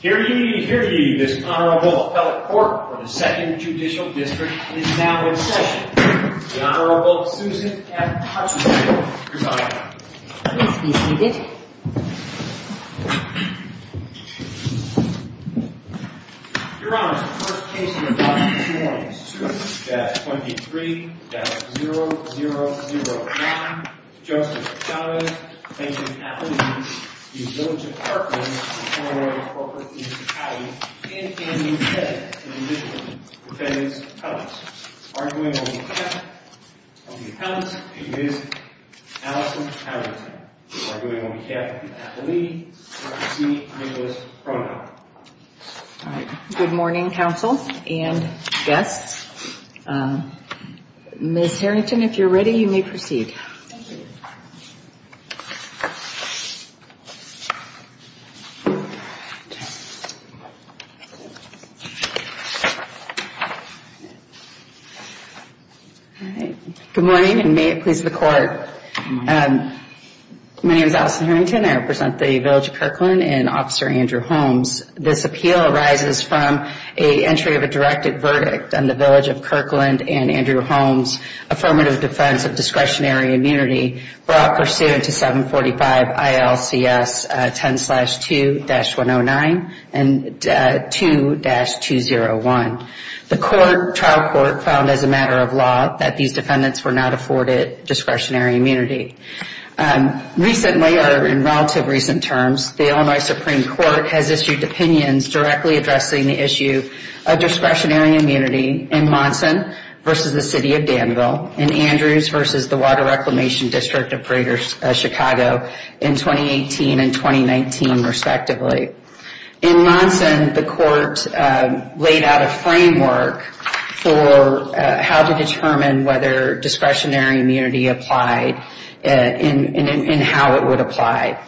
Here to you, here to you, this Honorable Appellate Court for the 2nd Judicial District is now in session. The Honorable Susan F. Hutchinson presiding. Please be seated. Your Honor, the first case of the morning is Suite-23-0009. Justice Chavez v. Appellate v. Village of Kirkland v. Honorable Appellate Court for the District of Cali. Ann Ann McCabe, the Judicial Defendant's Counsel, arguing on behalf of the Counsel to Ms. Allison Harrington. We are going on behalf of the Appellee to proceed with this hearing. Good morning and may it please the Court. My name is Allison Harrington. I represent the Village of Kirkland and Officer Andrew Holmes. This appeal arises from an entry of a directed verdict on the Village of Kirkland and Andrew Holmes' affirmative defense of discretionary immunity brought pursuant to 745 ILCS 10-2-109 and 2-201. The court, trial court, found as a matter of law that these defendants were not afforded discretionary immunity. Recently, or in relative recent terms, the Illinois Supreme Court has issued opinions directly addressing the issue of discretionary immunity in Monson v. the City of Danville and Andrews v. the Water Reclamation District of Greater Chicago in 2018 and 2019, respectively. In Monson, the court laid out a framework for how to determine whether discretionary immunity applied and how it would apply.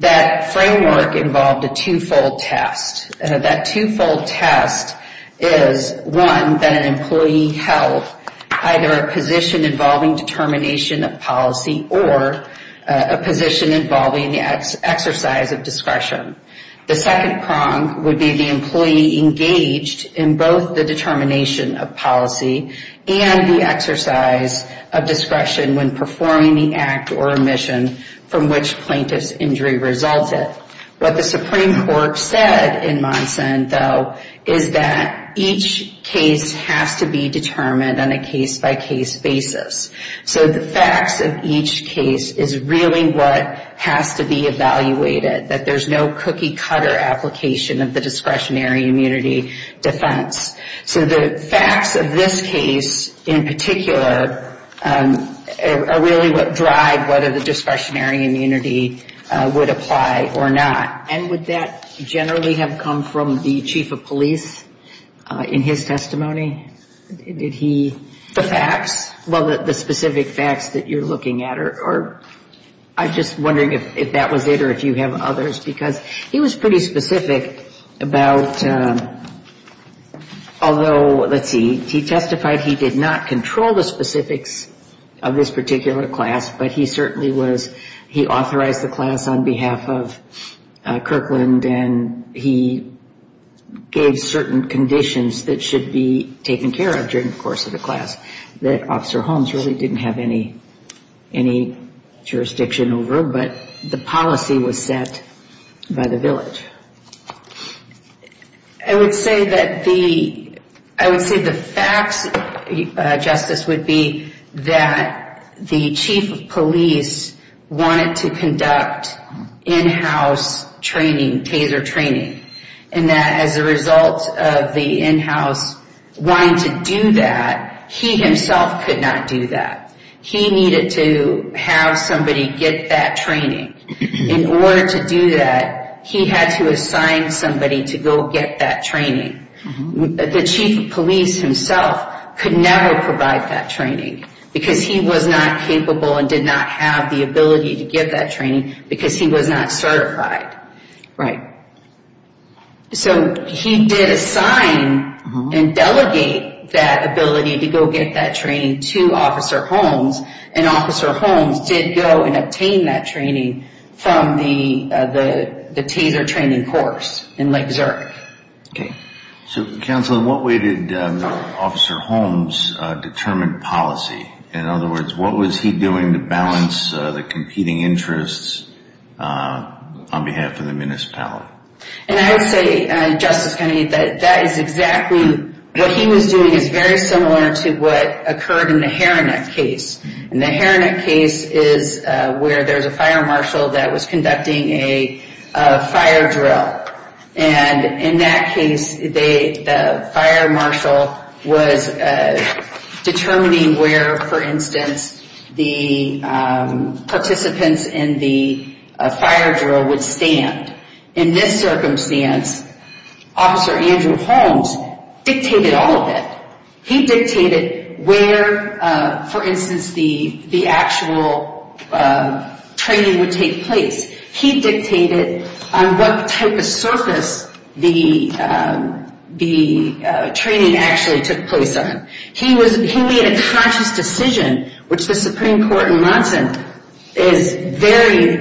That framework involved a two-fold test. That two-fold test is, one, that an employee held either a position involving determination of policy or a position involving the exercise of discretion. The second prong would be the employee engaged in both the determination of policy and the exercise of discretion when performing the act or mission from which plaintiff's injury resulted. What the Supreme Court said in Monson, though, is that each case has to be determined on a case-by-case basis. So the facts of each case is really what has to be evaluated, that there's no cookie-cutter application of the discretionary immunity defense. So the facts of this case in particular are really what drive whether the discretionary immunity would apply or not. And would that generally have come from the chief of police in his testimony? Did he? The facts. Well, the specific facts that you're looking at, or I'm just wondering if that was it or if you have others. Because he was pretty specific about, although, let's see, he testified he did not control the specifics of this particular class, but he certainly was, he authorized the class on behalf of Kirkland and he gave certain conditions that should be taken care of during the course of the class that Officer Holmes really didn't have any jurisdiction over, but the policy was set by the village. I would say the facts, Justice, would be that the chief of police wanted to conduct in-house training, taser training, and that as a result of the in-house wanting to do that, he himself could not do that. He needed to have somebody get that training. In order to do that, he had to assign somebody to go get that training. The chief of police himself could never provide that training because he was not capable and did not have the ability to get that training because he was not certified. Right. So he did assign and delegate that ability to go get that training to Officer Holmes, and Officer Holmes did go and obtain that training from the taser training course in Lake Zurich. Okay. So, Counsel, in what way did Officer Holmes determine policy? In other words, what was he doing to balance the competing interests on behalf of the municipality? And I would say, Justice Kennedy, that that is exactly, what he was doing is very similar to what occurred in the Heronet case. And the Heronet case is where there's a fire marshal that was conducting a fire drill. And in that case, the fire marshal was determining where, for instance, the participants in the fire drill would stand. In this circumstance, Officer Andrew Holmes dictated all of it. He dictated where, for instance, the actual training would take place. He dictated on what type of surface the training actually took place on. He made a conscious decision, which the Supreme Court in Monson is very,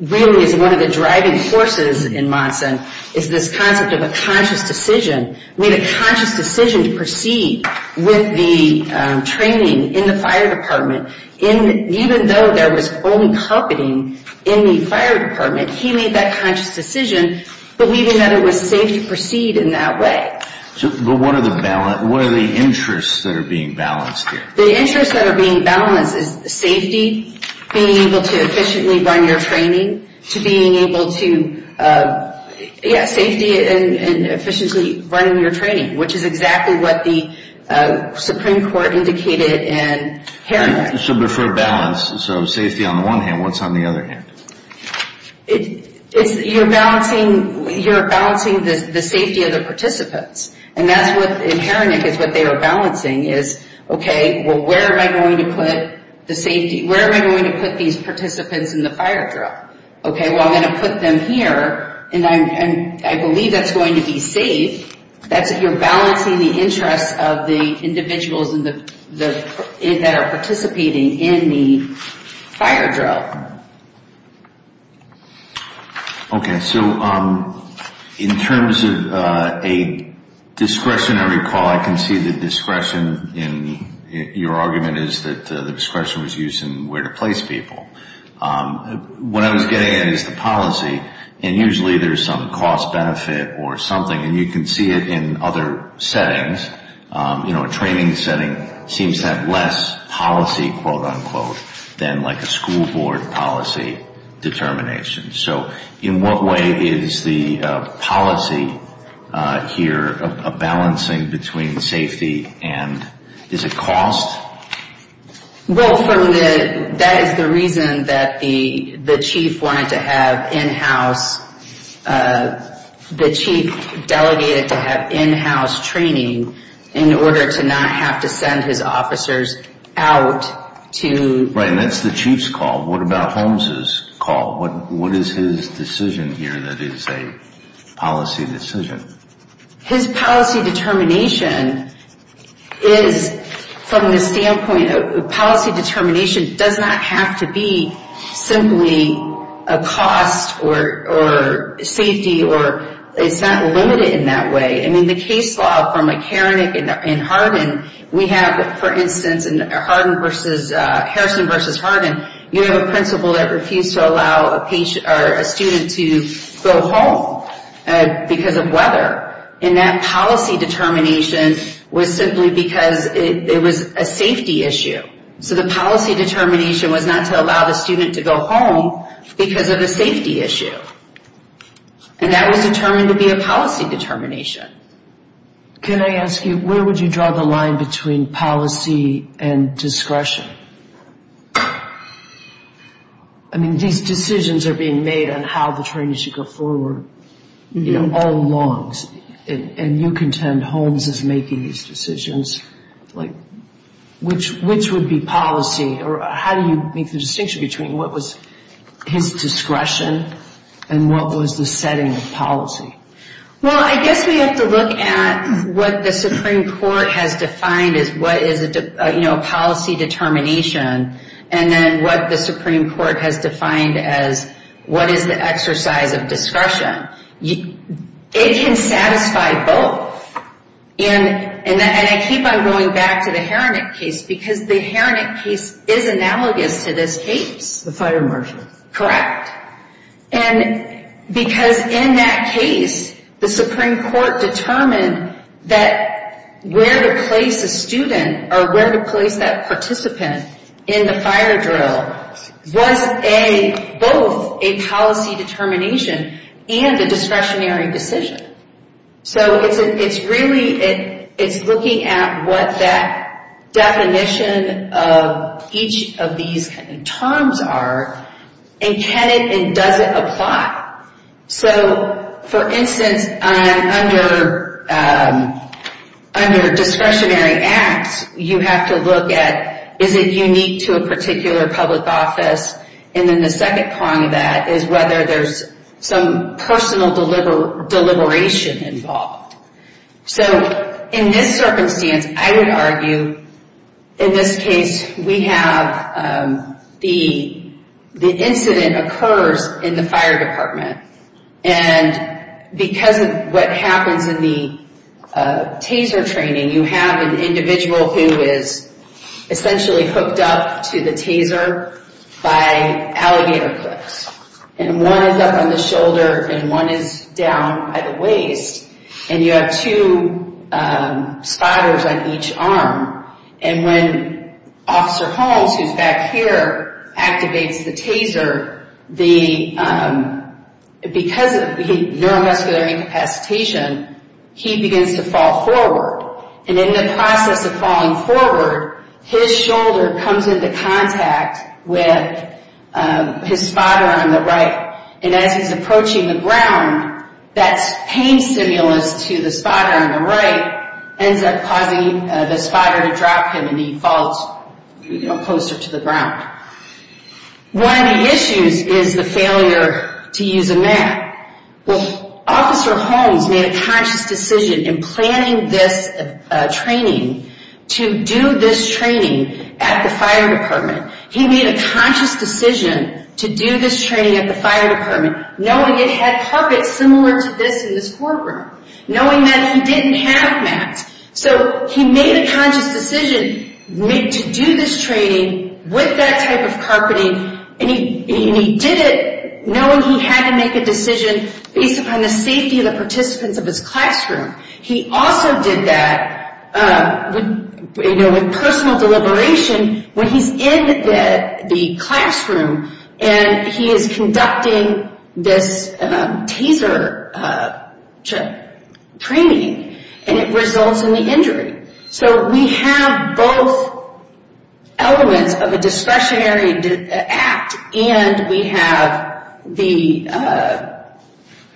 really is one of the driving forces in Monson, is this concept of a conscious decision. He made a conscious decision to proceed with the training in the fire department. Even though there was only company in the fire department, he made that conscious decision believing that it was safe to proceed in that way. But what are the interests that are being balanced here? The interests that are being balanced is safety, being able to efficiently run your training, to being able to, yes, safety and efficiently running your training, which is exactly what the Supreme Court indicated in Heronet. So for balance, so safety on the one hand, what's on the other hand? You're balancing the safety of the participants. And that's what in Heronet is what they were balancing is, okay, well, where am I going to put the safety? Okay, well, I'm going to put them here, and I believe that's going to be safe. That's if you're balancing the interests of the individuals that are participating in the fire drill. Okay, so in terms of a discretionary call, I can see the discretion in your argument is that the discretion was used in where to place people. What I was getting at is the policy, and usually there's some cost benefit or something, and you can see it in other settings. You know, a training setting seems to have less policy, quote, unquote, than like a school board policy determination. So in what way is the policy here a balancing between safety and is it cost? Well, that is the reason that the chief wanted to have in-house, the chief delegated to have in-house training in order to not have to send his officers out to. Right, and that's the chief's call. What about Holmes' call? What is his decision here that is a policy decision? His policy determination is from the standpoint of policy determination does not have to be simply a cost or safety or it's not limited in that way. I mean, the case law from Harrison versus Hardin, you have a principal that refused to allow a student to go home because of weather. And that policy determination was simply because it was a safety issue. So the policy determination was not to allow the student to go home because of a safety issue. And that was determined to be a policy determination. Can I ask you, where would you draw the line between policy and discretion? I mean, these decisions are being made on how the trainees should go forward, you know, all along. And you contend Holmes is making these decisions. Which would be policy? Or how do you make the distinction between what was his discretion and what was the setting of policy? Well, I guess we have to look at what the Supreme Court has defined as what is a policy determination. And then what the Supreme Court has defined as what is the exercise of discretion. It can satisfy both. And I keep on going back to the Harnik case because the Harnik case is analogous to this case. The fire marshal. Correct. And because in that case, the Supreme Court determined that where to place a student or where to place that participant in the fire drill was both a policy determination and a discretionary decision. So it's really, it's looking at what that definition of each of these terms are. And can it and does it apply? So, for instance, under discretionary acts, you have to look at is it unique to a particular public office. And then the second part of that is whether there's some personal deliberation involved. So, in this circumstance, I would argue, in this case, we have the incident occurs in the fire department. And because of what happens in the taser training, you have an individual who is essentially hooked up to the taser by alligator clips. And one is up on the shoulder and one is down by the waist. And you have two spotters on each arm. And when Officer Holmes, who's back here, activates the taser, because of neuromuscular incapacitation, he begins to fall forward. And in the process of falling forward, his shoulder comes into contact with his spotter on the right. And as he's approaching the ground, that pain stimulus to the spotter on the right ends up causing the spotter to drop him and he falls closer to the ground. One of the issues is the failure to use a map. Well, Officer Holmes made a conscious decision in planning this training to do this training at the fire department. He made a conscious decision to do this training at the fire department, knowing it had carpets similar to this in this courtroom. Knowing that he didn't have maps. So, he made a conscious decision to do this training with that type of carpeting. And he did it knowing he had to make a decision based upon the safety of the participants of his classroom. He also did that with personal deliberation when he's in the classroom and he is conducting this taser training and it results in the injury. So, we have both elements of a discretionary act and we have the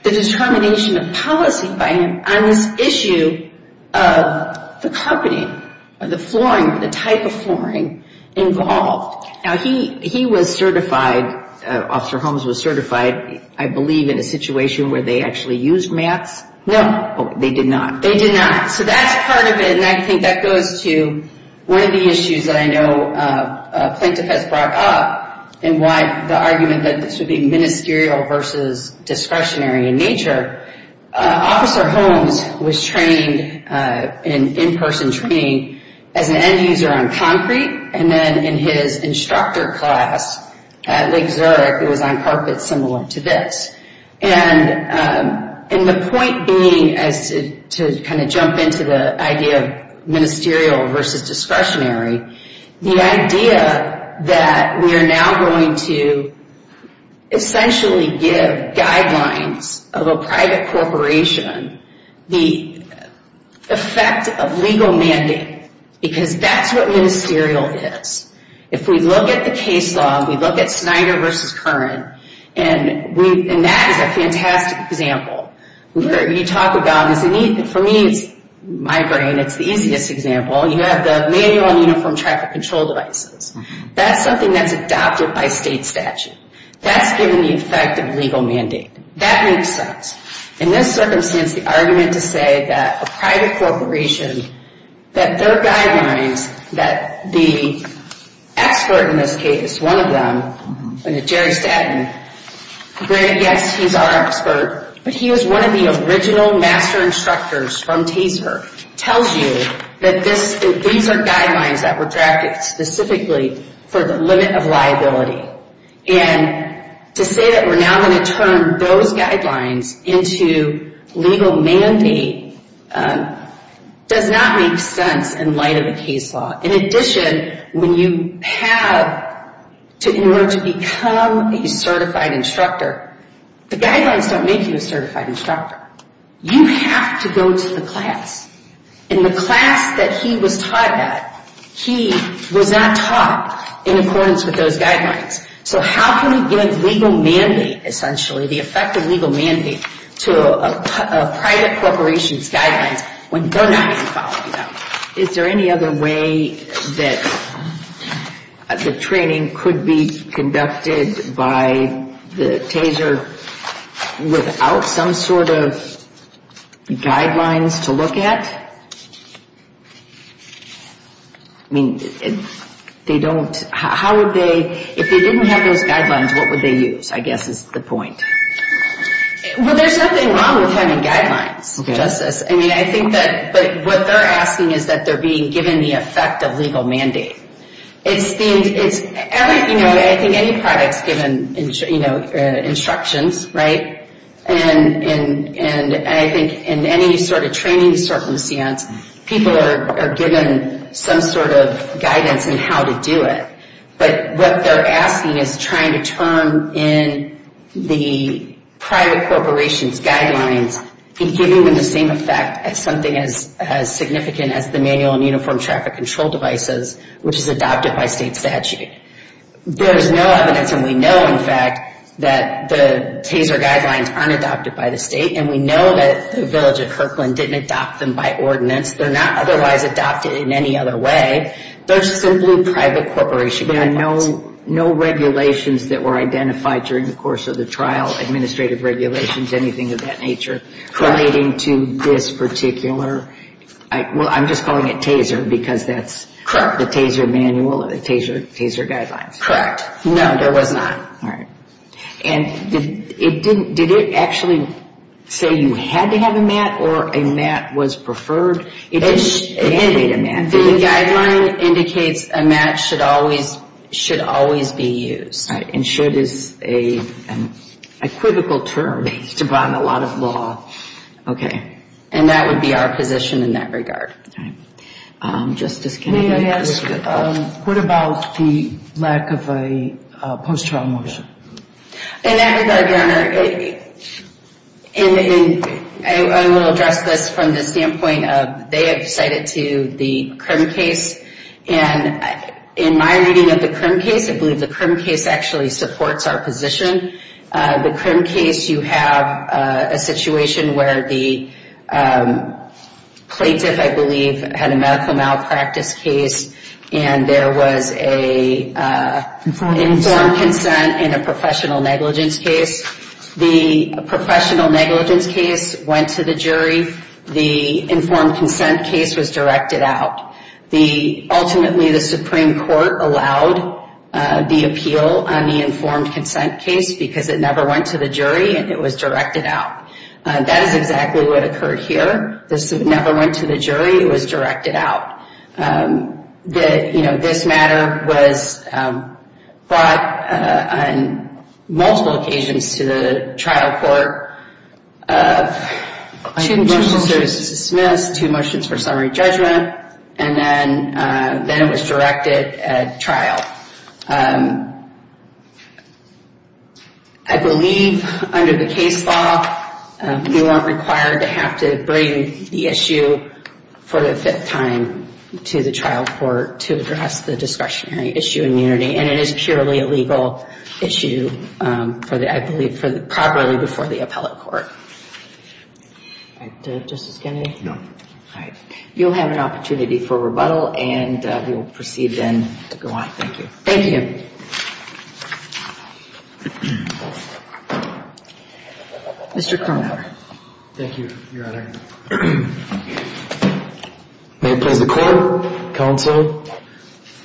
determination of policy by him on this issue of the carpeting or the flooring, the type of flooring involved. Now, he was certified, Officer Holmes was certified, I believe, in a situation where they actually used maps. No. They did not. They did not. So, that's part of it and I think that goes to one of the issues that I know Plaintiff has brought up and why the argument that this would be ministerial versus discretionary in nature. Officer Holmes was trained in in-person training as an end user on concrete and then in his instructor class at Lake Zurich, it was on carpets similar to this. And the point being as to kind of jump into the idea of ministerial versus discretionary, the idea that we are now going to essentially give guidelines of a private corporation the effect of legal mandate because that's what ministerial is. If we look at the case law, we look at Snyder versus Curran and that is a fantastic example. You talk about, for me, it's my brain, it's the easiest example. You have the manual and uniform traffic control devices. That's something that's adopted by state statute. That's given the effect of legal mandate. That makes sense. In this circumstance, the argument to say that a private corporation, that their guidelines, that the expert in this case, one of them, Jerry Statton, granted, yes, he's our expert, but he was one of the original master instructors from TSER, tells you that these are guidelines that were drafted specifically for the limit of liability. And to say that we're now going to turn those guidelines into legal mandate does not make sense in light of the case law. In addition, when you have, in order to become a certified instructor, the guidelines don't make you a certified instructor. You have to go to the class. In the class that he was taught at, he was not taught in accordance with those guidelines. So how can you give legal mandate, essentially, the effect of legal mandate to a private corporation's guidelines when they're not even following them? Is there any other way that the training could be conducted by the TSER without some sort of guidelines to look at? I mean, they don't, how would they, if they didn't have those guidelines, what would they use, I guess is the point. Well, there's nothing wrong with having guidelines, Justice. I mean, I think that, but what they're asking is that they're being given the effect of legal mandate. It's, you know, I think any product's given instructions, right? And I think in any sort of training circumstance, people are given some sort of guidance in how to do it. But what they're asking is trying to turn in the private corporation's guidelines and giving them the same effect as something as significant as the manual and uniform traffic control devices, which is adopted by state statute. There's no evidence, and we know, in fact, that the TSER guidelines aren't adopted by the state, and we know that the village of Kirkland didn't adopt them by ordinance. They're not otherwise adopted in any other way. They're simply private corporation guidelines. There are no regulations that were identified during the course of the trial, administrative regulations, anything of that nature relating to this particular, well, I'm just calling it TSER because that's the TSER manual, the TSER guidelines. Correct. No, there was not. All right. And it didn't, did it actually say you had to have a mat or a mat was preferred? It did mandate a mat. The guideline indicates a mat should always be used. All right. And should is a critical term based upon a lot of law. Okay. And that would be our position in that regard. All right. Justice Kennedy. May I ask, what about the lack of a post-trial motion? In that regard, Your Honor, I will address this from the standpoint of they have cited to the CRIM case. And in my reading of the CRIM case, I believe the CRIM case actually supports our position. The CRIM case, you have a situation where the plaintiff, I believe, had a medical malpractice case, and there was an informed consent and a professional negligence case. I believe the informed consent case was directed out. Ultimately, the Supreme Court allowed the appeal on the informed consent case because it never went to the jury and it was directed out. That is exactly what occurred here. This never went to the jury. It was directed out. This matter was brought on multiple occasions to the trial court. Two motions were dismissed, two motions for summary judgment, and then it was directed at trial. I believe under the case law, you aren't required to have to bring the issue for the fifth time to the trial court to address the discretionary issue immunity. And it is purely a legal issue, I believe, properly before the appellate court. All right. Justice Kennedy? No. All right. You'll have an opportunity for rebuttal, and we will proceed then to go on. Thank you. Thank you. Mr. Kronhauer. Thank you, Your Honor. May it please the Court, Counsel,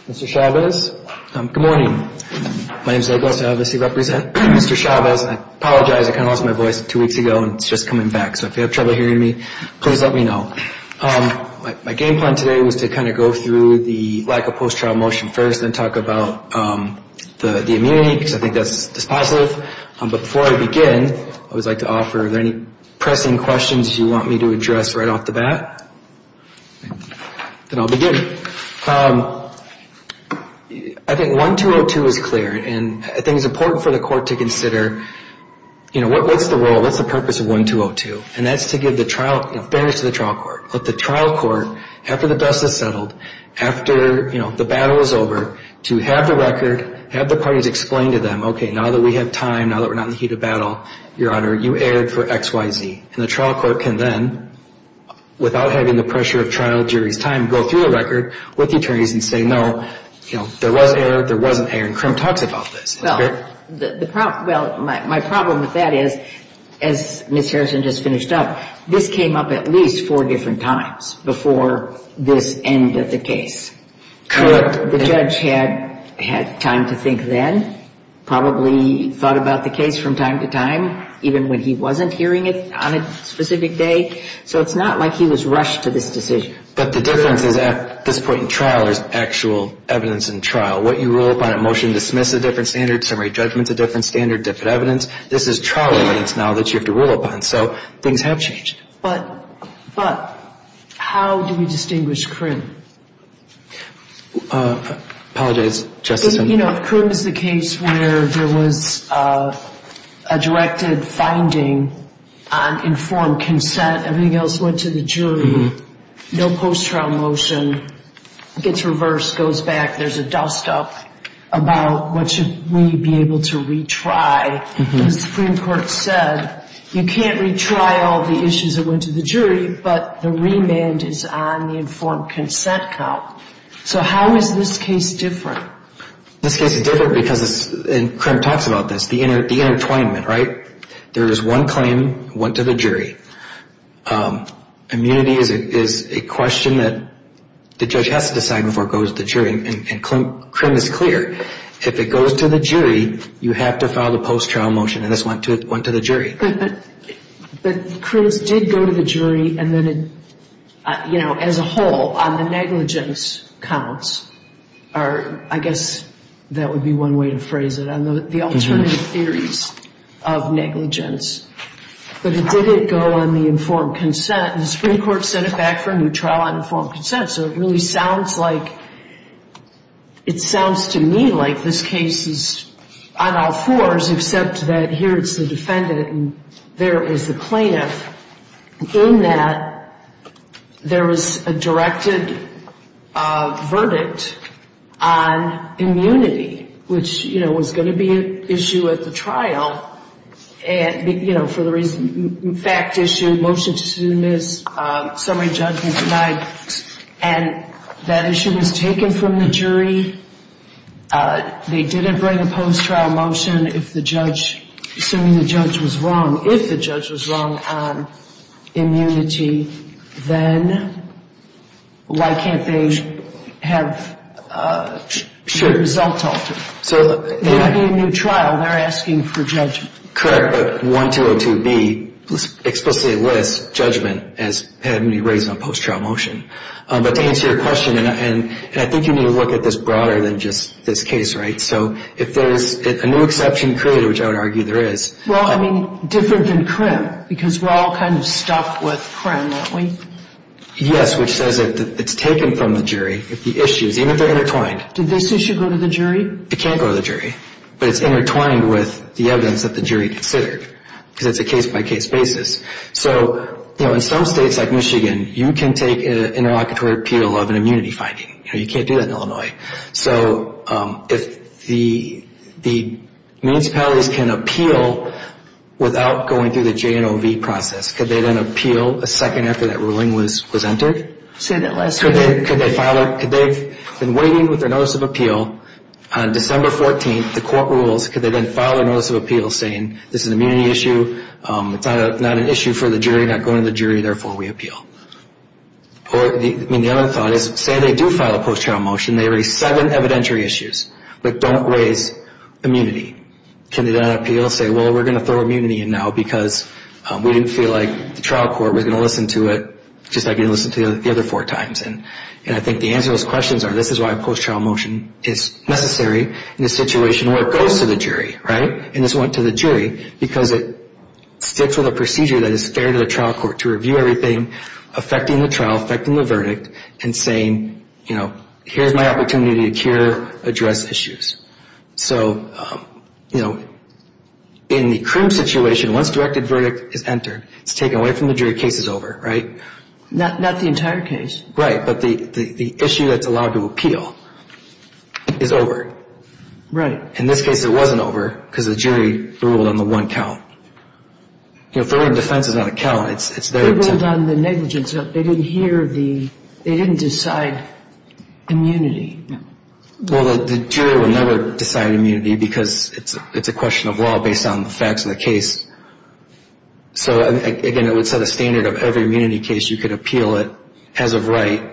Mr. Chavez. Good morning. My name is Douglas. I obviously represent Mr. Chavez. I apologize. I kind of lost my voice two weeks ago, and it's just coming back. So if you have trouble hearing me, please let me know. My game plan today was to kind of go through the lack of post-trial motion first and then talk about the immunity, because I think that's positive. But before I begin, I would like to offer, are there any pressing questions you want me to address right off the bat? Then I'll begin. I think 1202 is clear, and I think it's important for the Court to consider, you know, what's the role, what's the purpose of 1202, and that's to give the trial, you know, fairness to the trial court. Let the trial court, after the dust has settled, after, you know, the battle is over, to have the record, have the parties explain to them, okay, now that we have time, now that we're not in the heat of battle, Your Honor, you erred for X, Y, Z. And the trial court can then, without having the pressure of trial jury's time, go through the record with the attorneys and say, no, you know, there was error, there wasn't error. And Krim talks about this. Well, my problem with that is, as Ms. Harrison just finished up, this came up at least four different times before this end of the case. Correct. The judge had time to think then, probably thought about the case from time to time, even when he wasn't hearing it on a specific day. So it's not like he was rushed to this decision. But the difference is at this point in trial, there's actual evidence in trial. What you rule upon at motion dismiss is a different standard. Summary judgment is a different standard, different evidence. This is trial evidence now that you have to rule upon. So things have changed. But how do we distinguish Krim? Apologize, Justice. You know, if Krim is the case where there was a directed finding on informed consent, everything else went to the jury, no post-trial motion, gets reversed, goes back, there's a dust-up about what should we be able to retry. The Supreme Court said you can't retry all the issues that went to the jury, but the remand is on the informed consent count. So how is this case different? This case is different because, and Krim talks about this, the intertwinement, right? There is one claim that went to the jury. Immunity is a question that the judge has to decide before it goes to the jury, and Krim is clear. If it goes to the jury, you have to file the post-trial motion, and this went to the jury. But Krim's did go to the jury, and then, you know, as a whole, on the negligence counts, or I guess that would be one way to phrase it, on the alternative theories of negligence. But it didn't go on the informed consent. The Supreme Court sent it back for a new trial on informed consent, so it really sounds like it sounds to me like this case is on all fours, except that here it's the defendant and there is the plaintiff. In that, there is a directed verdict on immunity, which, you know, was going to be an issue at the trial, and, you know, for the reason, fact issue, motion to dismiss, summary judgment denied, and that issue was taken from the jury. They didn't bring a post-trial motion if the judge, assuming the judge was wrong, if the judge was wrong on immunity, then why can't they have a result altered? So they're asking for judgment. Correct, but 1202B explicitly lists judgment as having to be raised on post-trial motion. But to answer your question, and I think you need to look at this broader than just this case, right? So if there is a new exception created, which I would argue there is. Well, I mean, different than Krim, because we're all kind of stuck with Krim, aren't we? Yes, which says that it's taken from the jury, the issues, even if they're intertwined. Did this issue go to the jury? It can't go to the jury, but it's intertwined with the evidence that the jury considered, because it's a case-by-case basis. So, you know, in some states like Michigan, you can take an interlocutory appeal of an immunity finding. You know, you can't do that in Illinois. So if the municipalities can appeal without going through the J&OV process, could they then appeal a second after that ruling was entered? Say that last sentence. Could they have been waiting with their notice of appeal on December 14th, the court rules, could they then file a notice of appeal saying this is an immunity issue, it's not an issue for the jury, not going to the jury, therefore we appeal? I mean, the other thought is, say they do file a post-trial motion, they raise seven evidentiary issues, but don't raise immunity. Can they then appeal, say, well, we're going to throw immunity in now because we didn't feel like the trial court was going to listen to it just like they didn't listen to the other four times? And I think the answer to those questions are this is why a post-trial motion is necessary in a situation where it goes to the jury, right? And it's going to the jury because it sticks with a procedure that is fair to the trial court to review everything affecting the trial, affecting the verdict, and saying, you know, here's my opportunity to cure, address issues. So, you know, in the current situation, once directed verdict is entered, it's taken away from the jury, case is over, right? Not the entire case. Right, but the issue that's allowed to appeal is over. Right. In this case, it wasn't over because the jury ruled on the one count. You know, if they're in defense, it's not a count. They ruled on the negligence. They didn't hear the they didn't decide immunity. Well, the jury will never decide immunity because it's a question of law based on the facts of the case. So, again, it would set a standard of every immunity case. You could appeal it as of right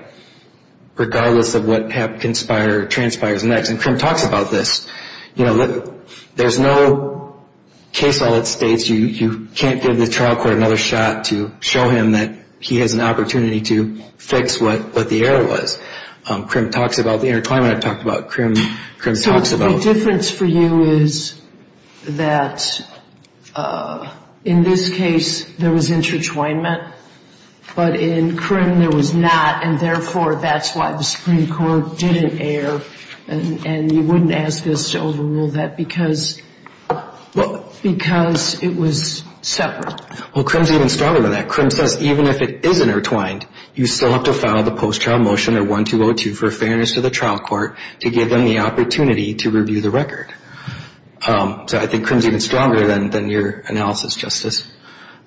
regardless of what transpires next. And Krim talks about this. You know, there's no case law that states you can't give the trial court another shot to show him that he has an opportunity to fix what the error was. Krim talks about the intertwinement I've talked about. Krim talks about... In this case, there was intertwinement. But in Krim, there was not. And, therefore, that's why the Supreme Court didn't err. And you wouldn't ask us to overrule that because it was separate. Well, Krim's even stronger than that. Krim says even if it is intertwined, you still have to file the post-trial motion or 1202 for fairness to the trial court to give them the opportunity to review the record. So I think Krim's even stronger than your analysis, Justice.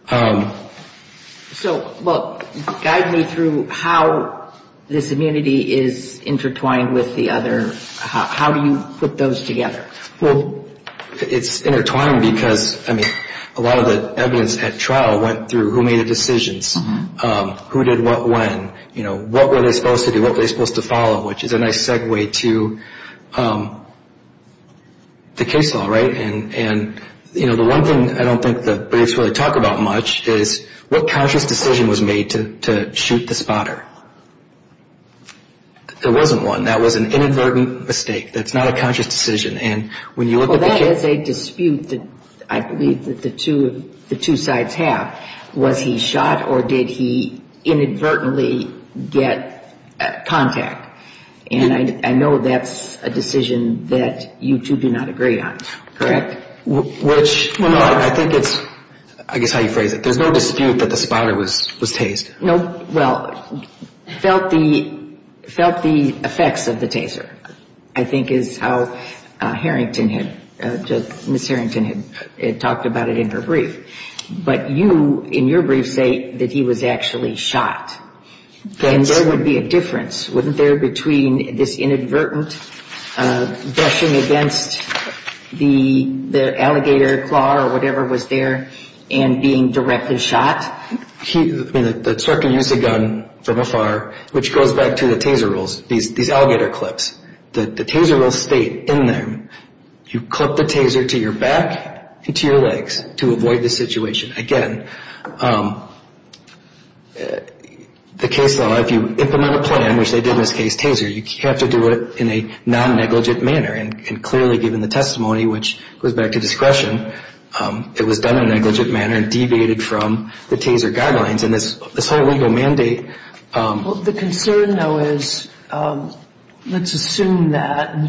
So, look, guide me through how this immunity is intertwined with the other. How do you put those together? Well, it's intertwined because, I mean, a lot of the evidence at trial went through who made the decisions, who did what when, you know, what were they supposed to do, what were they supposed to follow, which is a nice segue to the case law, right? And, you know, the one thing I don't think the briefs really talk about much is what conscious decision was made to shoot the spotter. There wasn't one. That was an inadvertent mistake. That's not a conscious decision. And when you look at the case... Well, that is a dispute that I believe that the two sides have. Was he shot or did he inadvertently get contact? And I know that's a decision that you two do not agree on, correct? Which, I think it's, I guess, how you phrase it. There's no dispute that the spotter was tased. Well, felt the effects of the taser, I think, is how Miss Harrington had talked about it in her brief. But you, in your brief, say that he was actually shot. And there would be a difference, wouldn't there, between this inadvertent brushing against the alligator claw or whatever was there and being directly shot? I mean, the instructor used a gun from afar, which goes back to the taser rules, these alligator clips. The taser will stay in there. You clip the taser to your back and to your legs to avoid this situation. Again, the case law, if you implement a plan, which they did in this case, taser, you have to do it in a non-negligent manner. And clearly, given the testimony, which goes back to discretion, it was done in a negligent manner and deviated from the taser guidelines. And this whole legal mandate... And the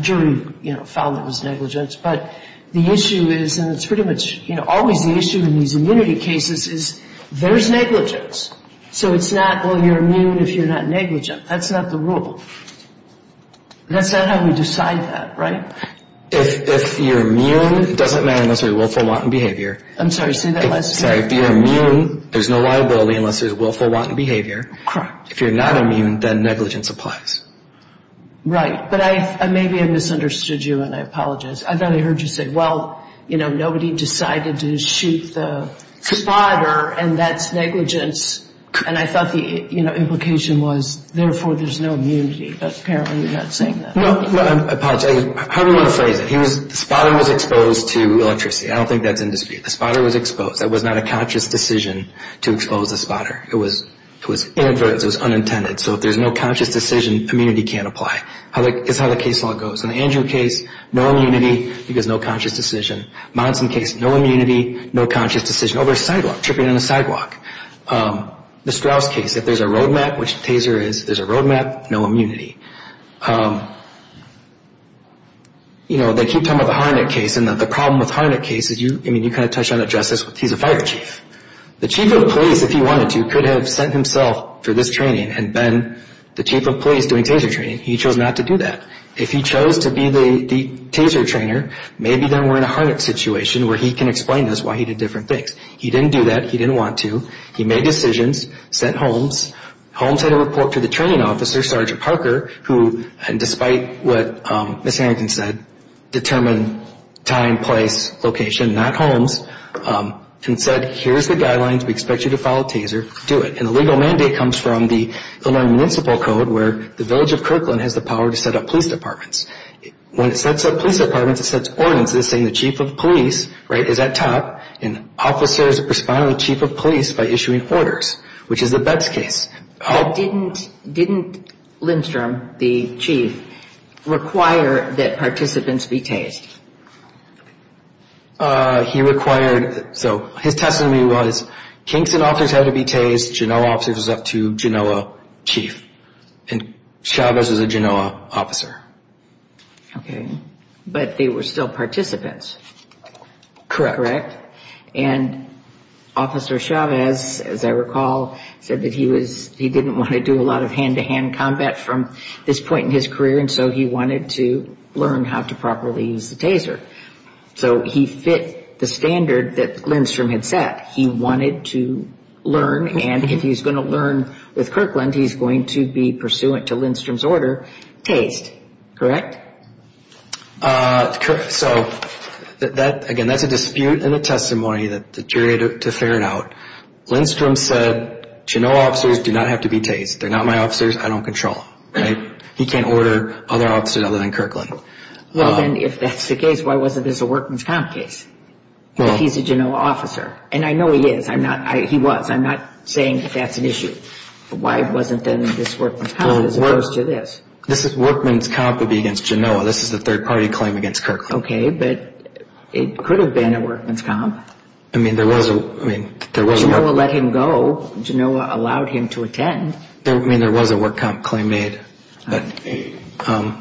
jury found it was negligent. But the issue is, and it's pretty much always the issue in these immunity cases, is there's negligence. So it's not, well, you're immune if you're not negligent. That's not the rule. That's not how we decide that, right? If you're immune, it doesn't matter unless there's willful, wanton behavior. I'm sorry, say that last sentence. If you're immune, there's no liability unless there's willful, wanton behavior. Correct. If you're not immune, then negligence applies. Right. But maybe I misunderstood you, and I apologize. I thought I heard you say, well, you know, nobody decided to shoot the spotter, and that's negligence. And I thought the implication was, therefore, there's no immunity. But apparently you're not saying that. Well, I apologize. How do you want to phrase it? The spotter was exposed to electricity. I don't think that's in dispute. The spotter was exposed. That was not a conscious decision to expose the spotter. It was inadvertent. It was unintended. So if there's no conscious decision, immunity can't apply. It's how the case law goes. In the Andrew case, no immunity because no conscious decision. Monson case, no immunity, no conscious decision. Over a sidewalk, tripping on a sidewalk. The Strauss case, if there's a road map, which Taser is, if there's a road map, no immunity. You know, they keep talking about the Harnik case, and the problem with Harnik case is, I mean, you kind of touched on it, Justice, he's a fire chief. The chief of police, if he wanted to, could have sent himself for this training and been the chief of police doing Taser training. He chose not to do that. If he chose to be the Taser trainer, maybe then we're in a Harnik situation where he can explain to us why he did different things. He didn't do that. He didn't want to. He made decisions, sent Holmes. Holmes had a report to the training officer, Sergeant Parker, who, despite what Ms. Harrington said, determined time, place, location, not Holmes, and said, here's the guidelines, we expect you to follow Taser, do it. And the legal mandate comes from the Illinois Municipal Code, where the village of Kirkland has the power to set up police departments. When it sets up police departments, it sets ordinances saying the chief of police, right, is at top, and officers respond to the chief of police by issuing orders, which is the Betz case. Didn't Lindstrom, the chief, require that participants be Tased? He required, so his testimony was Kingston officers had to be Tased, Genoa officers was up to Genoa chief, and Chavez was a Genoa officer. Okay. But they were still participants. Correct. Correct. And Officer Chavez, as I recall, said that he didn't want to do a lot of hand-to-hand combat from this point in his career, and so he wanted to learn how to properly use the Taser. So he fit the standard that Lindstrom had set. He wanted to learn, and if he's going to learn with Kirkland, he's going to be pursuant to Lindstrom's order, Tased. Correct? Correct. So, again, that's a dispute and a testimony that deteriorated to fair and out. Lindstrom said, Genoa officers do not have to be Tased. They're not my officers. I don't control them. He can't order other officers other than Kirkland. Well, then, if that's the case, why wasn't this a workman's comp case? He's a Genoa officer, and I know he is. He was. I'm not saying that that's an issue. Why wasn't then this workman's comp as opposed to this? This workman's comp would be against Genoa. This is a third-party claim against Kirkland. Okay, but it could have been a workman's comp. I mean, there was a workman's comp. Genoa let him go. Genoa allowed him to attend. I mean, there was a workman's comp claim made, but, you know,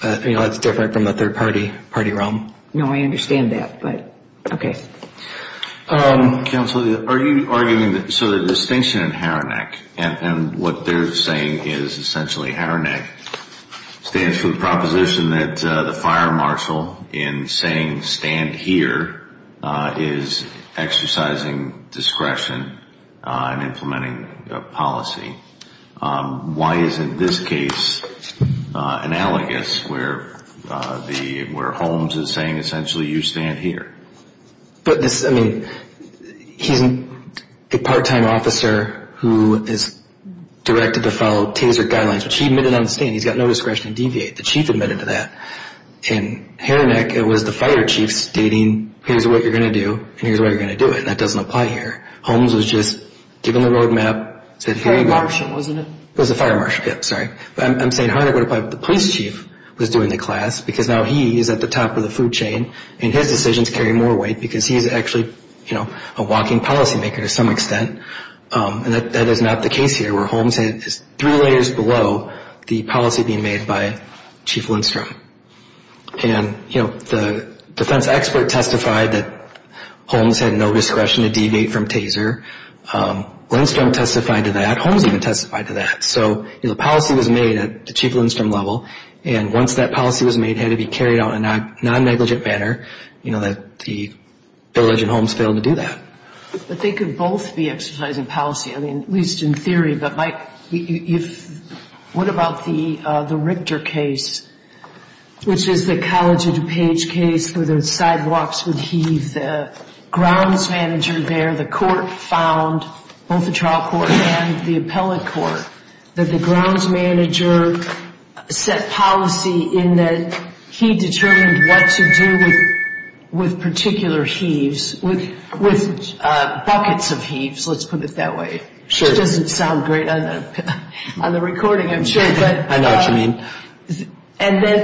that's different from the third-party realm. No, I understand that, but, okay. Counsel, are you arguing that the distinction in Haranek and what they're saying is essentially Haranek stands for the proposition that the fire marshal, in saying stand here, is exercising discretion in implementing a policy? Why isn't this case analogous where Holmes is saying essentially you stand here? But this, I mean, he's a part-time officer who is directed to follow TASER guidelines, which he admitted on the stand. He's got no discretion to deviate. The chief admitted to that. In Haranek, it was the fire chief stating here's what you're going to do and here's the way you're going to do it, and that doesn't apply here. Holmes was just given the roadmap. Fire marshal, wasn't it? It was the fire marshal, yeah, sorry. I'm saying Haranek would apply, but the police chief was doing the class because now he is at the top of the food chain, and his decisions carry more weight because he's actually, you know, a walking policymaker to some extent, and that is not the case here where Holmes is three layers below the policy being made by Chief Lindstrom. And, you know, the defense expert testified that Holmes had no discretion to deviate from TASER. Lindstrom testified to that. Holmes even testified to that. So, you know, the policy was made at the Chief Lindstrom level, and once that policy was made, it had to be carried out in a non-negligent manner, you know, that the village and Holmes failed to do that. But they could both be exercising policy, I mean, at least in theory. But, Mike, what about the Richter case, which is the College of DuPage case where the sidewalks would heave? The grounds manager there, the court found, both the trial court and the appellate court, that the grounds manager set policy in that he determined what to do with particular heaves, with buckets of heaves, let's put it that way. Sure. It doesn't sound great on the recording, I'm sure. I know what you mean.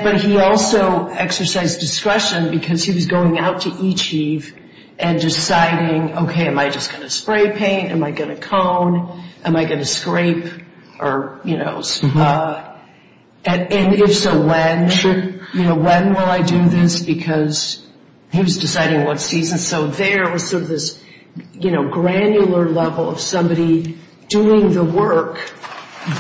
But he also exercised discretion because he was going out to each heave and deciding, okay, am I just going to spray paint? Am I going to cone? Am I going to scrape? And if so, when? Sure. He was deciding what seasons. So there was sort of this, you know, granular level of somebody doing the work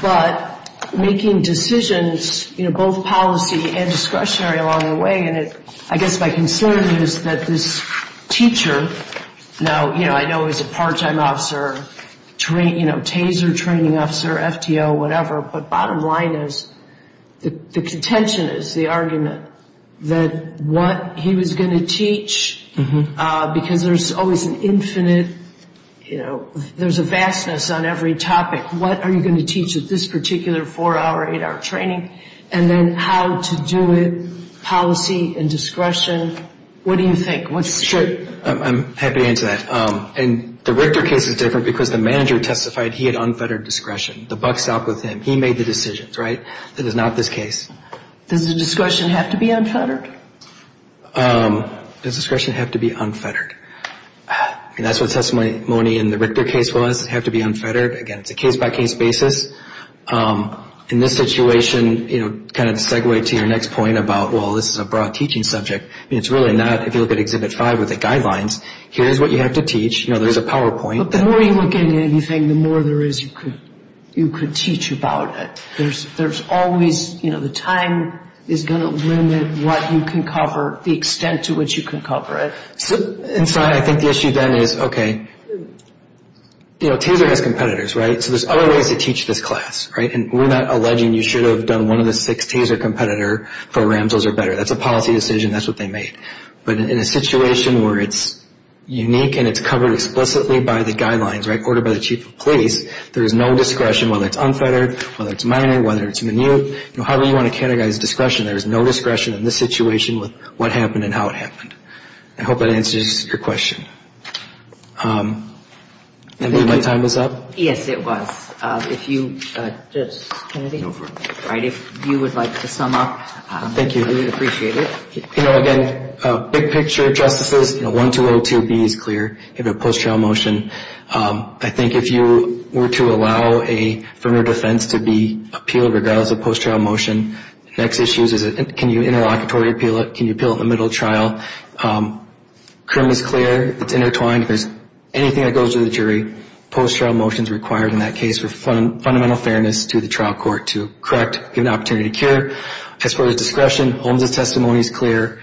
but making decisions, you know, both policy and discretionary along the way. And I guess my concern is that this teacher, now, you know, I know he's a part-time officer, you know, taser training officer, FTO, whatever, but bottom line is the contention is the argument that what he was going to teach, because there's always an infinite, you know, there's a vastness on every topic, what are you going to teach at this particular four-hour, eight-hour training, and then how to do it policy and discretion. What do you think? Sure. I'm happy to answer that. And the Richter case is different because the manager testified he had unfettered discretion. The buck stopped with him. He made the decisions, right? It is not this case. Does the discretion have to be unfettered? Does discretion have to be unfettered? That's what testimony in the Richter case was, have to be unfettered. Again, it's a case-by-case basis. In this situation, you know, kind of to segue to your next point about, well, this is a broad teaching subject, it's really not, if you look at Exhibit 5 with the guidelines, here's what you have to teach. You know, there's a PowerPoint. The more you look at anything, the more there is you could teach about it. There's always, you know, the time is going to limit what you can cover, the extent to which you can cover it. And so I think the issue then is, okay, you know, TASER has competitors, right? So there's other ways to teach this class, right? And we're not alleging you should have done one of the six TASER competitor programs or better. That's a policy decision. That's what they made. But in a situation where it's unique and it's covered explicitly by the guidelines, right, ordered by the chief of police, there is no discretion whether it's unfettered, whether it's minor, whether it's minute. You know, however you want to characterize discretion, there is no discretion in this situation with what happened and how it happened. I hope that answers your question. I believe my time is up. Yes, it was. If you would like to sum up. Thank you. I really appreciate it. You know, again, big picture of justices, you know, 1202B is clear. You have a post-trial motion. I think if you were to allow a firm or defense to be appealed regardless of post-trial motion, the next issue is can you interlocutory appeal it, can you appeal it in the middle of trial. Crim is clear. It's intertwined. If there's anything that goes to the jury, post-trial motion is required in that case for fundamental fairness to the trial court to correct, give an opportunity to cure. As far as discretion, Holmes' testimony is clear.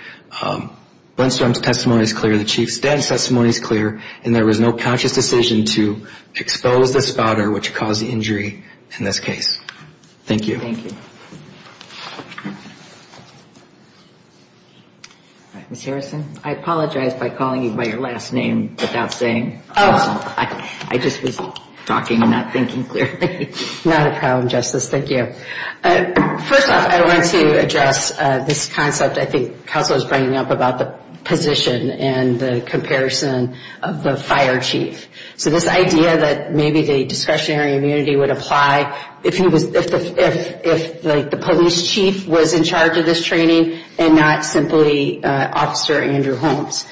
Blenstrom's testimony is clear. The Chief's death testimony is clear. And there was no conscious decision to expose the spotter which caused the injury in this case. Thank you. Thank you. Ms. Harrison, I apologize by calling you by your last name without saying. I just was talking and not thinking clearly. Not a problem, Justice. Thank you. First off, I want to address this concept I think counsel is bringing up about the position and the comparison of the fire chief. So this idea that maybe the discretionary immunity would apply if the police chief was in charge of this training and not simply Officer Andrew Holmes.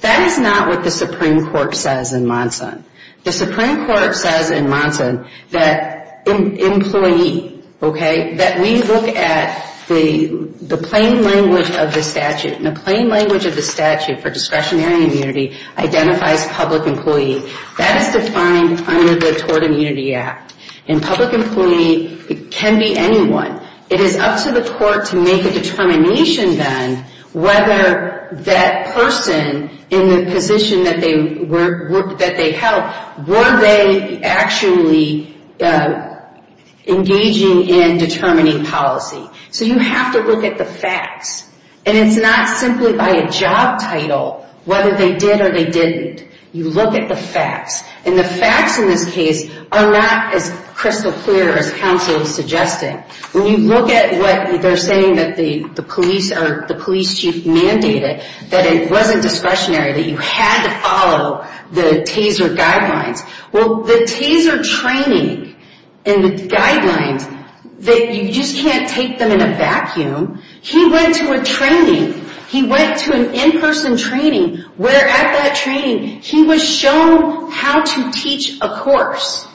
That is not what the Supreme Court says in Monson. The Supreme Court says in Monson that employee, okay, that we look at the plain language of the statute. And the plain language of the statute for discretionary immunity identifies public employee. That is defined under the Tort Immunity Act. And public employee can be anyone. It is up to the court to make a determination then whether that person in the position that they held were they actually engaging in determining policy. So you have to look at the facts. And it is not simply by a job title whether they did or they didn't. You look at the facts. And the facts in this case are not as crystal clear as counsel is suggesting. When you look at what they are saying that the police chief mandated, that it wasn't discretionary, that you had to follow the TASER guidelines. Well, the TASER training and the guidelines, you just can't take them in a vacuum. He went to a training. He went to an in-person training where at that training he was shown how to teach a course.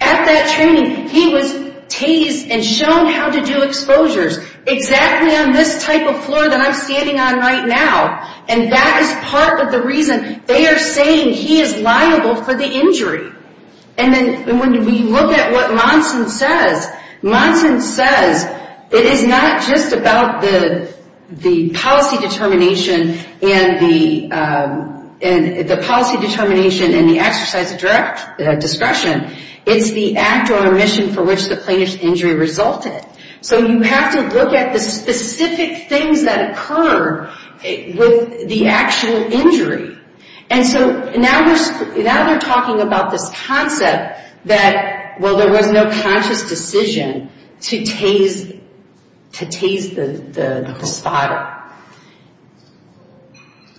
At that training, he was tased and shown how to do exposures exactly on this type of floor that I'm standing on right now. And that is part of the reason they are saying he is liable for the injury. And then when we look at what Monson says, Monson says it is not just about the policy determination and the exercise of discretion. It's the act or omission for which the plaintiff's injury resulted. So you have to look at the specific things that occur with the actual injury. And so now they are talking about this concept that, well, there was no conscious decision to tase the spotter.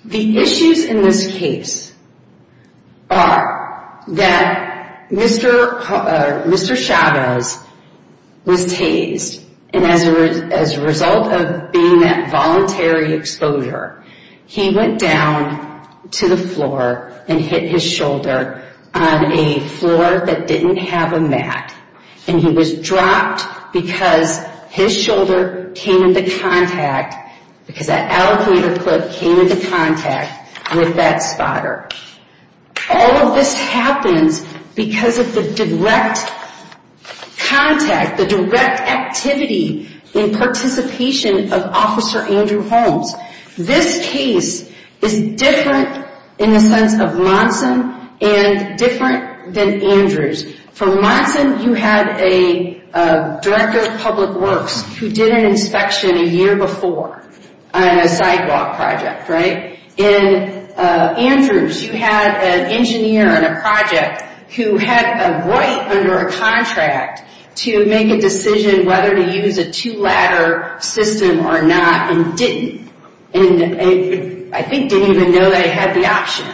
The issues in this case are that Mr. Chavez was tased and as a result of being at voluntary exposure, he went down to the floor and hit his shoulder on a floor that didn't have a mat. And he was dropped because his shoulder came into contact, because that alligator clip came into contact with that spotter. All of this happens because of the direct contact, the direct activity in participation of Officer Andrew Holmes. This case is different in the sense of Monson and different than Andrew's. For Monson, you had a Director of Public Works who did an inspection a year before on a sidewalk project, right? In Andrew's, you had an engineer on a project who had a right under a contract to make a decision whether to use a two-ladder system or not and didn't. And I think didn't even know they had the option.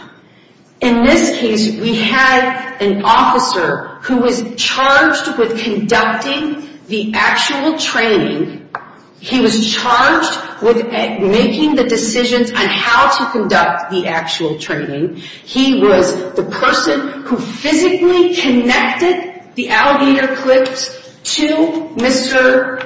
In this case, we had an officer who was charged with conducting the actual training. He was charged with making the decisions on how to conduct the actual training. He was the person who physically connected the alligator clips to Mr.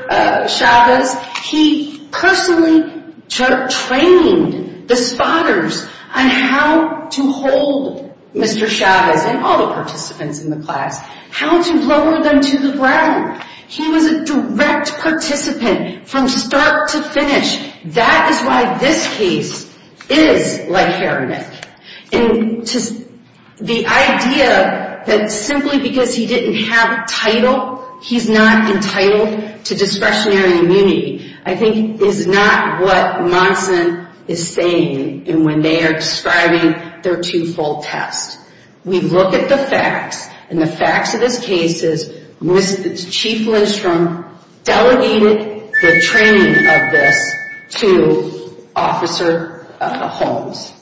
Chavez. He personally trained the spotters on how to hold Mr. Chavez and all the participants in the class, how to lower them to the ground. He was a direct participant from start to finish. That is why this case is like Harriman. The idea that simply because he didn't have a title, he's not entitled to discretionary immunity, I think is not what Monson is saying when they are describing their two-fold test. We look at the facts, and the facts of this case is Chief Lindstrom delegated the training of this to Officer Holmes.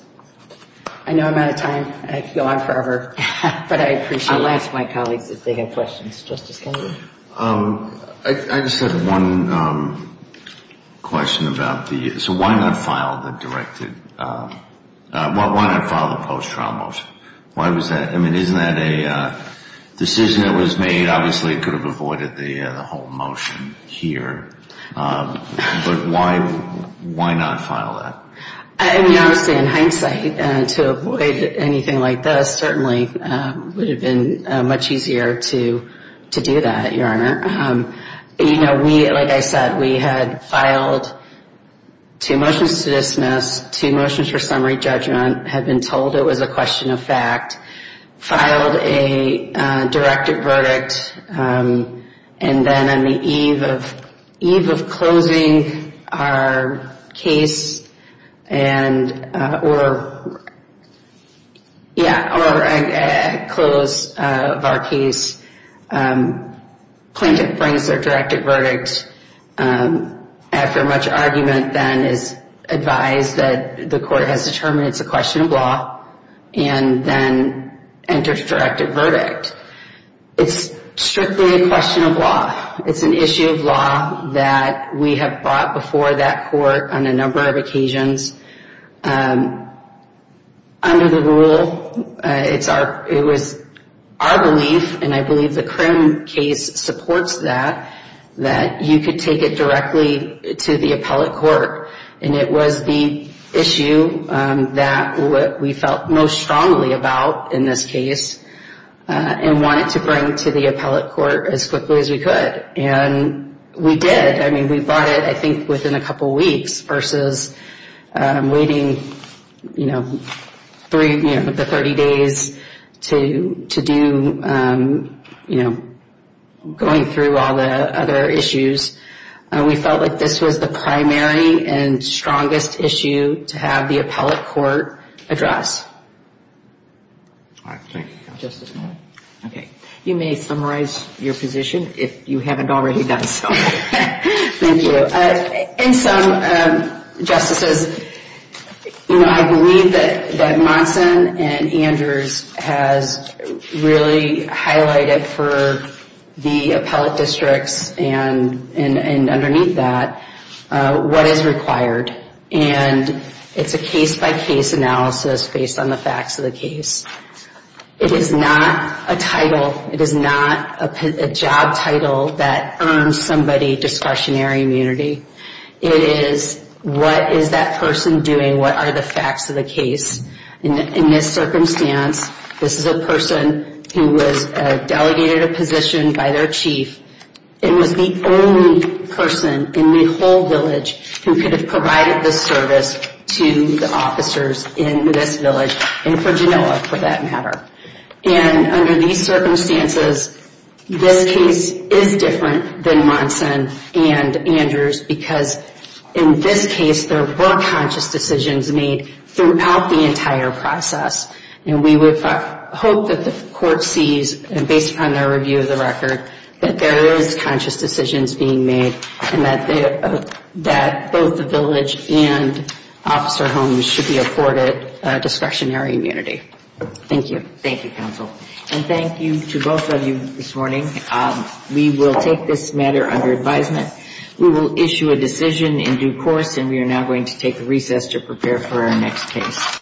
I know I'm out of time. I could go on forever, but I appreciate it. I'll ask my colleagues if they have questions. Justice Kennedy? I just have one question. Why not file the post-trial motion? Isn't that a decision that was made? Obviously, it could have avoided the whole motion here, but why not file that? Honestly, in hindsight, to avoid anything like this certainly would have been much easier to do that, Your Honor. Like I said, we had filed two motions to dismiss, two motions for summary judgment, had been told it was a question of fact, filed a directive verdict, and then on the eve of closing our case, plaintiff brings their directive verdict. After much argument, then it's advised that the court has determined it's a question of law, and then enters directive verdict. It's strictly a question of law. It's an issue of law that we have brought before that court on a number of occasions. Under the rule, it was our belief, and I believe the Crim case supports that, that you could take it directly to the appellate court. And it was the issue that we felt most strongly about in this case and wanted to bring to the appellate court as quickly as we could. And we did. I mean, we brought it, I think, within a couple of weeks versus waiting, you know, the 30 days to do, you know, going through all the other issues. We felt like this was the primary and strongest issue to have the appellate court address. You may summarize your position if you haven't already done so. Thank you. In sum, Justices, you know, I believe that Monson and Andrews has really highlighted for the appellate districts and underneath that what is required. And it's a case-by-case analysis based on the facts of the case. It is not a title. It is not a job title that earns somebody discretionary immunity. It is what is that person doing, what are the facts of the case. In this circumstance, this is a person who was delegated a position by their chief and was the only person in the whole village who could have provided this service to the officers in this village and for Genoa, for that matter. And under these circumstances, this case is different than Monson and Andrews because in this case, there were conscious decisions made throughout the entire process. And we would hope that the court sees, based upon their review of the record, that there is conscious decisions being made and that both the village and officer homes should be afforded discretionary immunity. Thank you. Thank you, counsel. And thank you to both of you this morning. We will take this matter under advisement. We will issue a decision in due course, and we are now going to take a recess to prepare for our next case.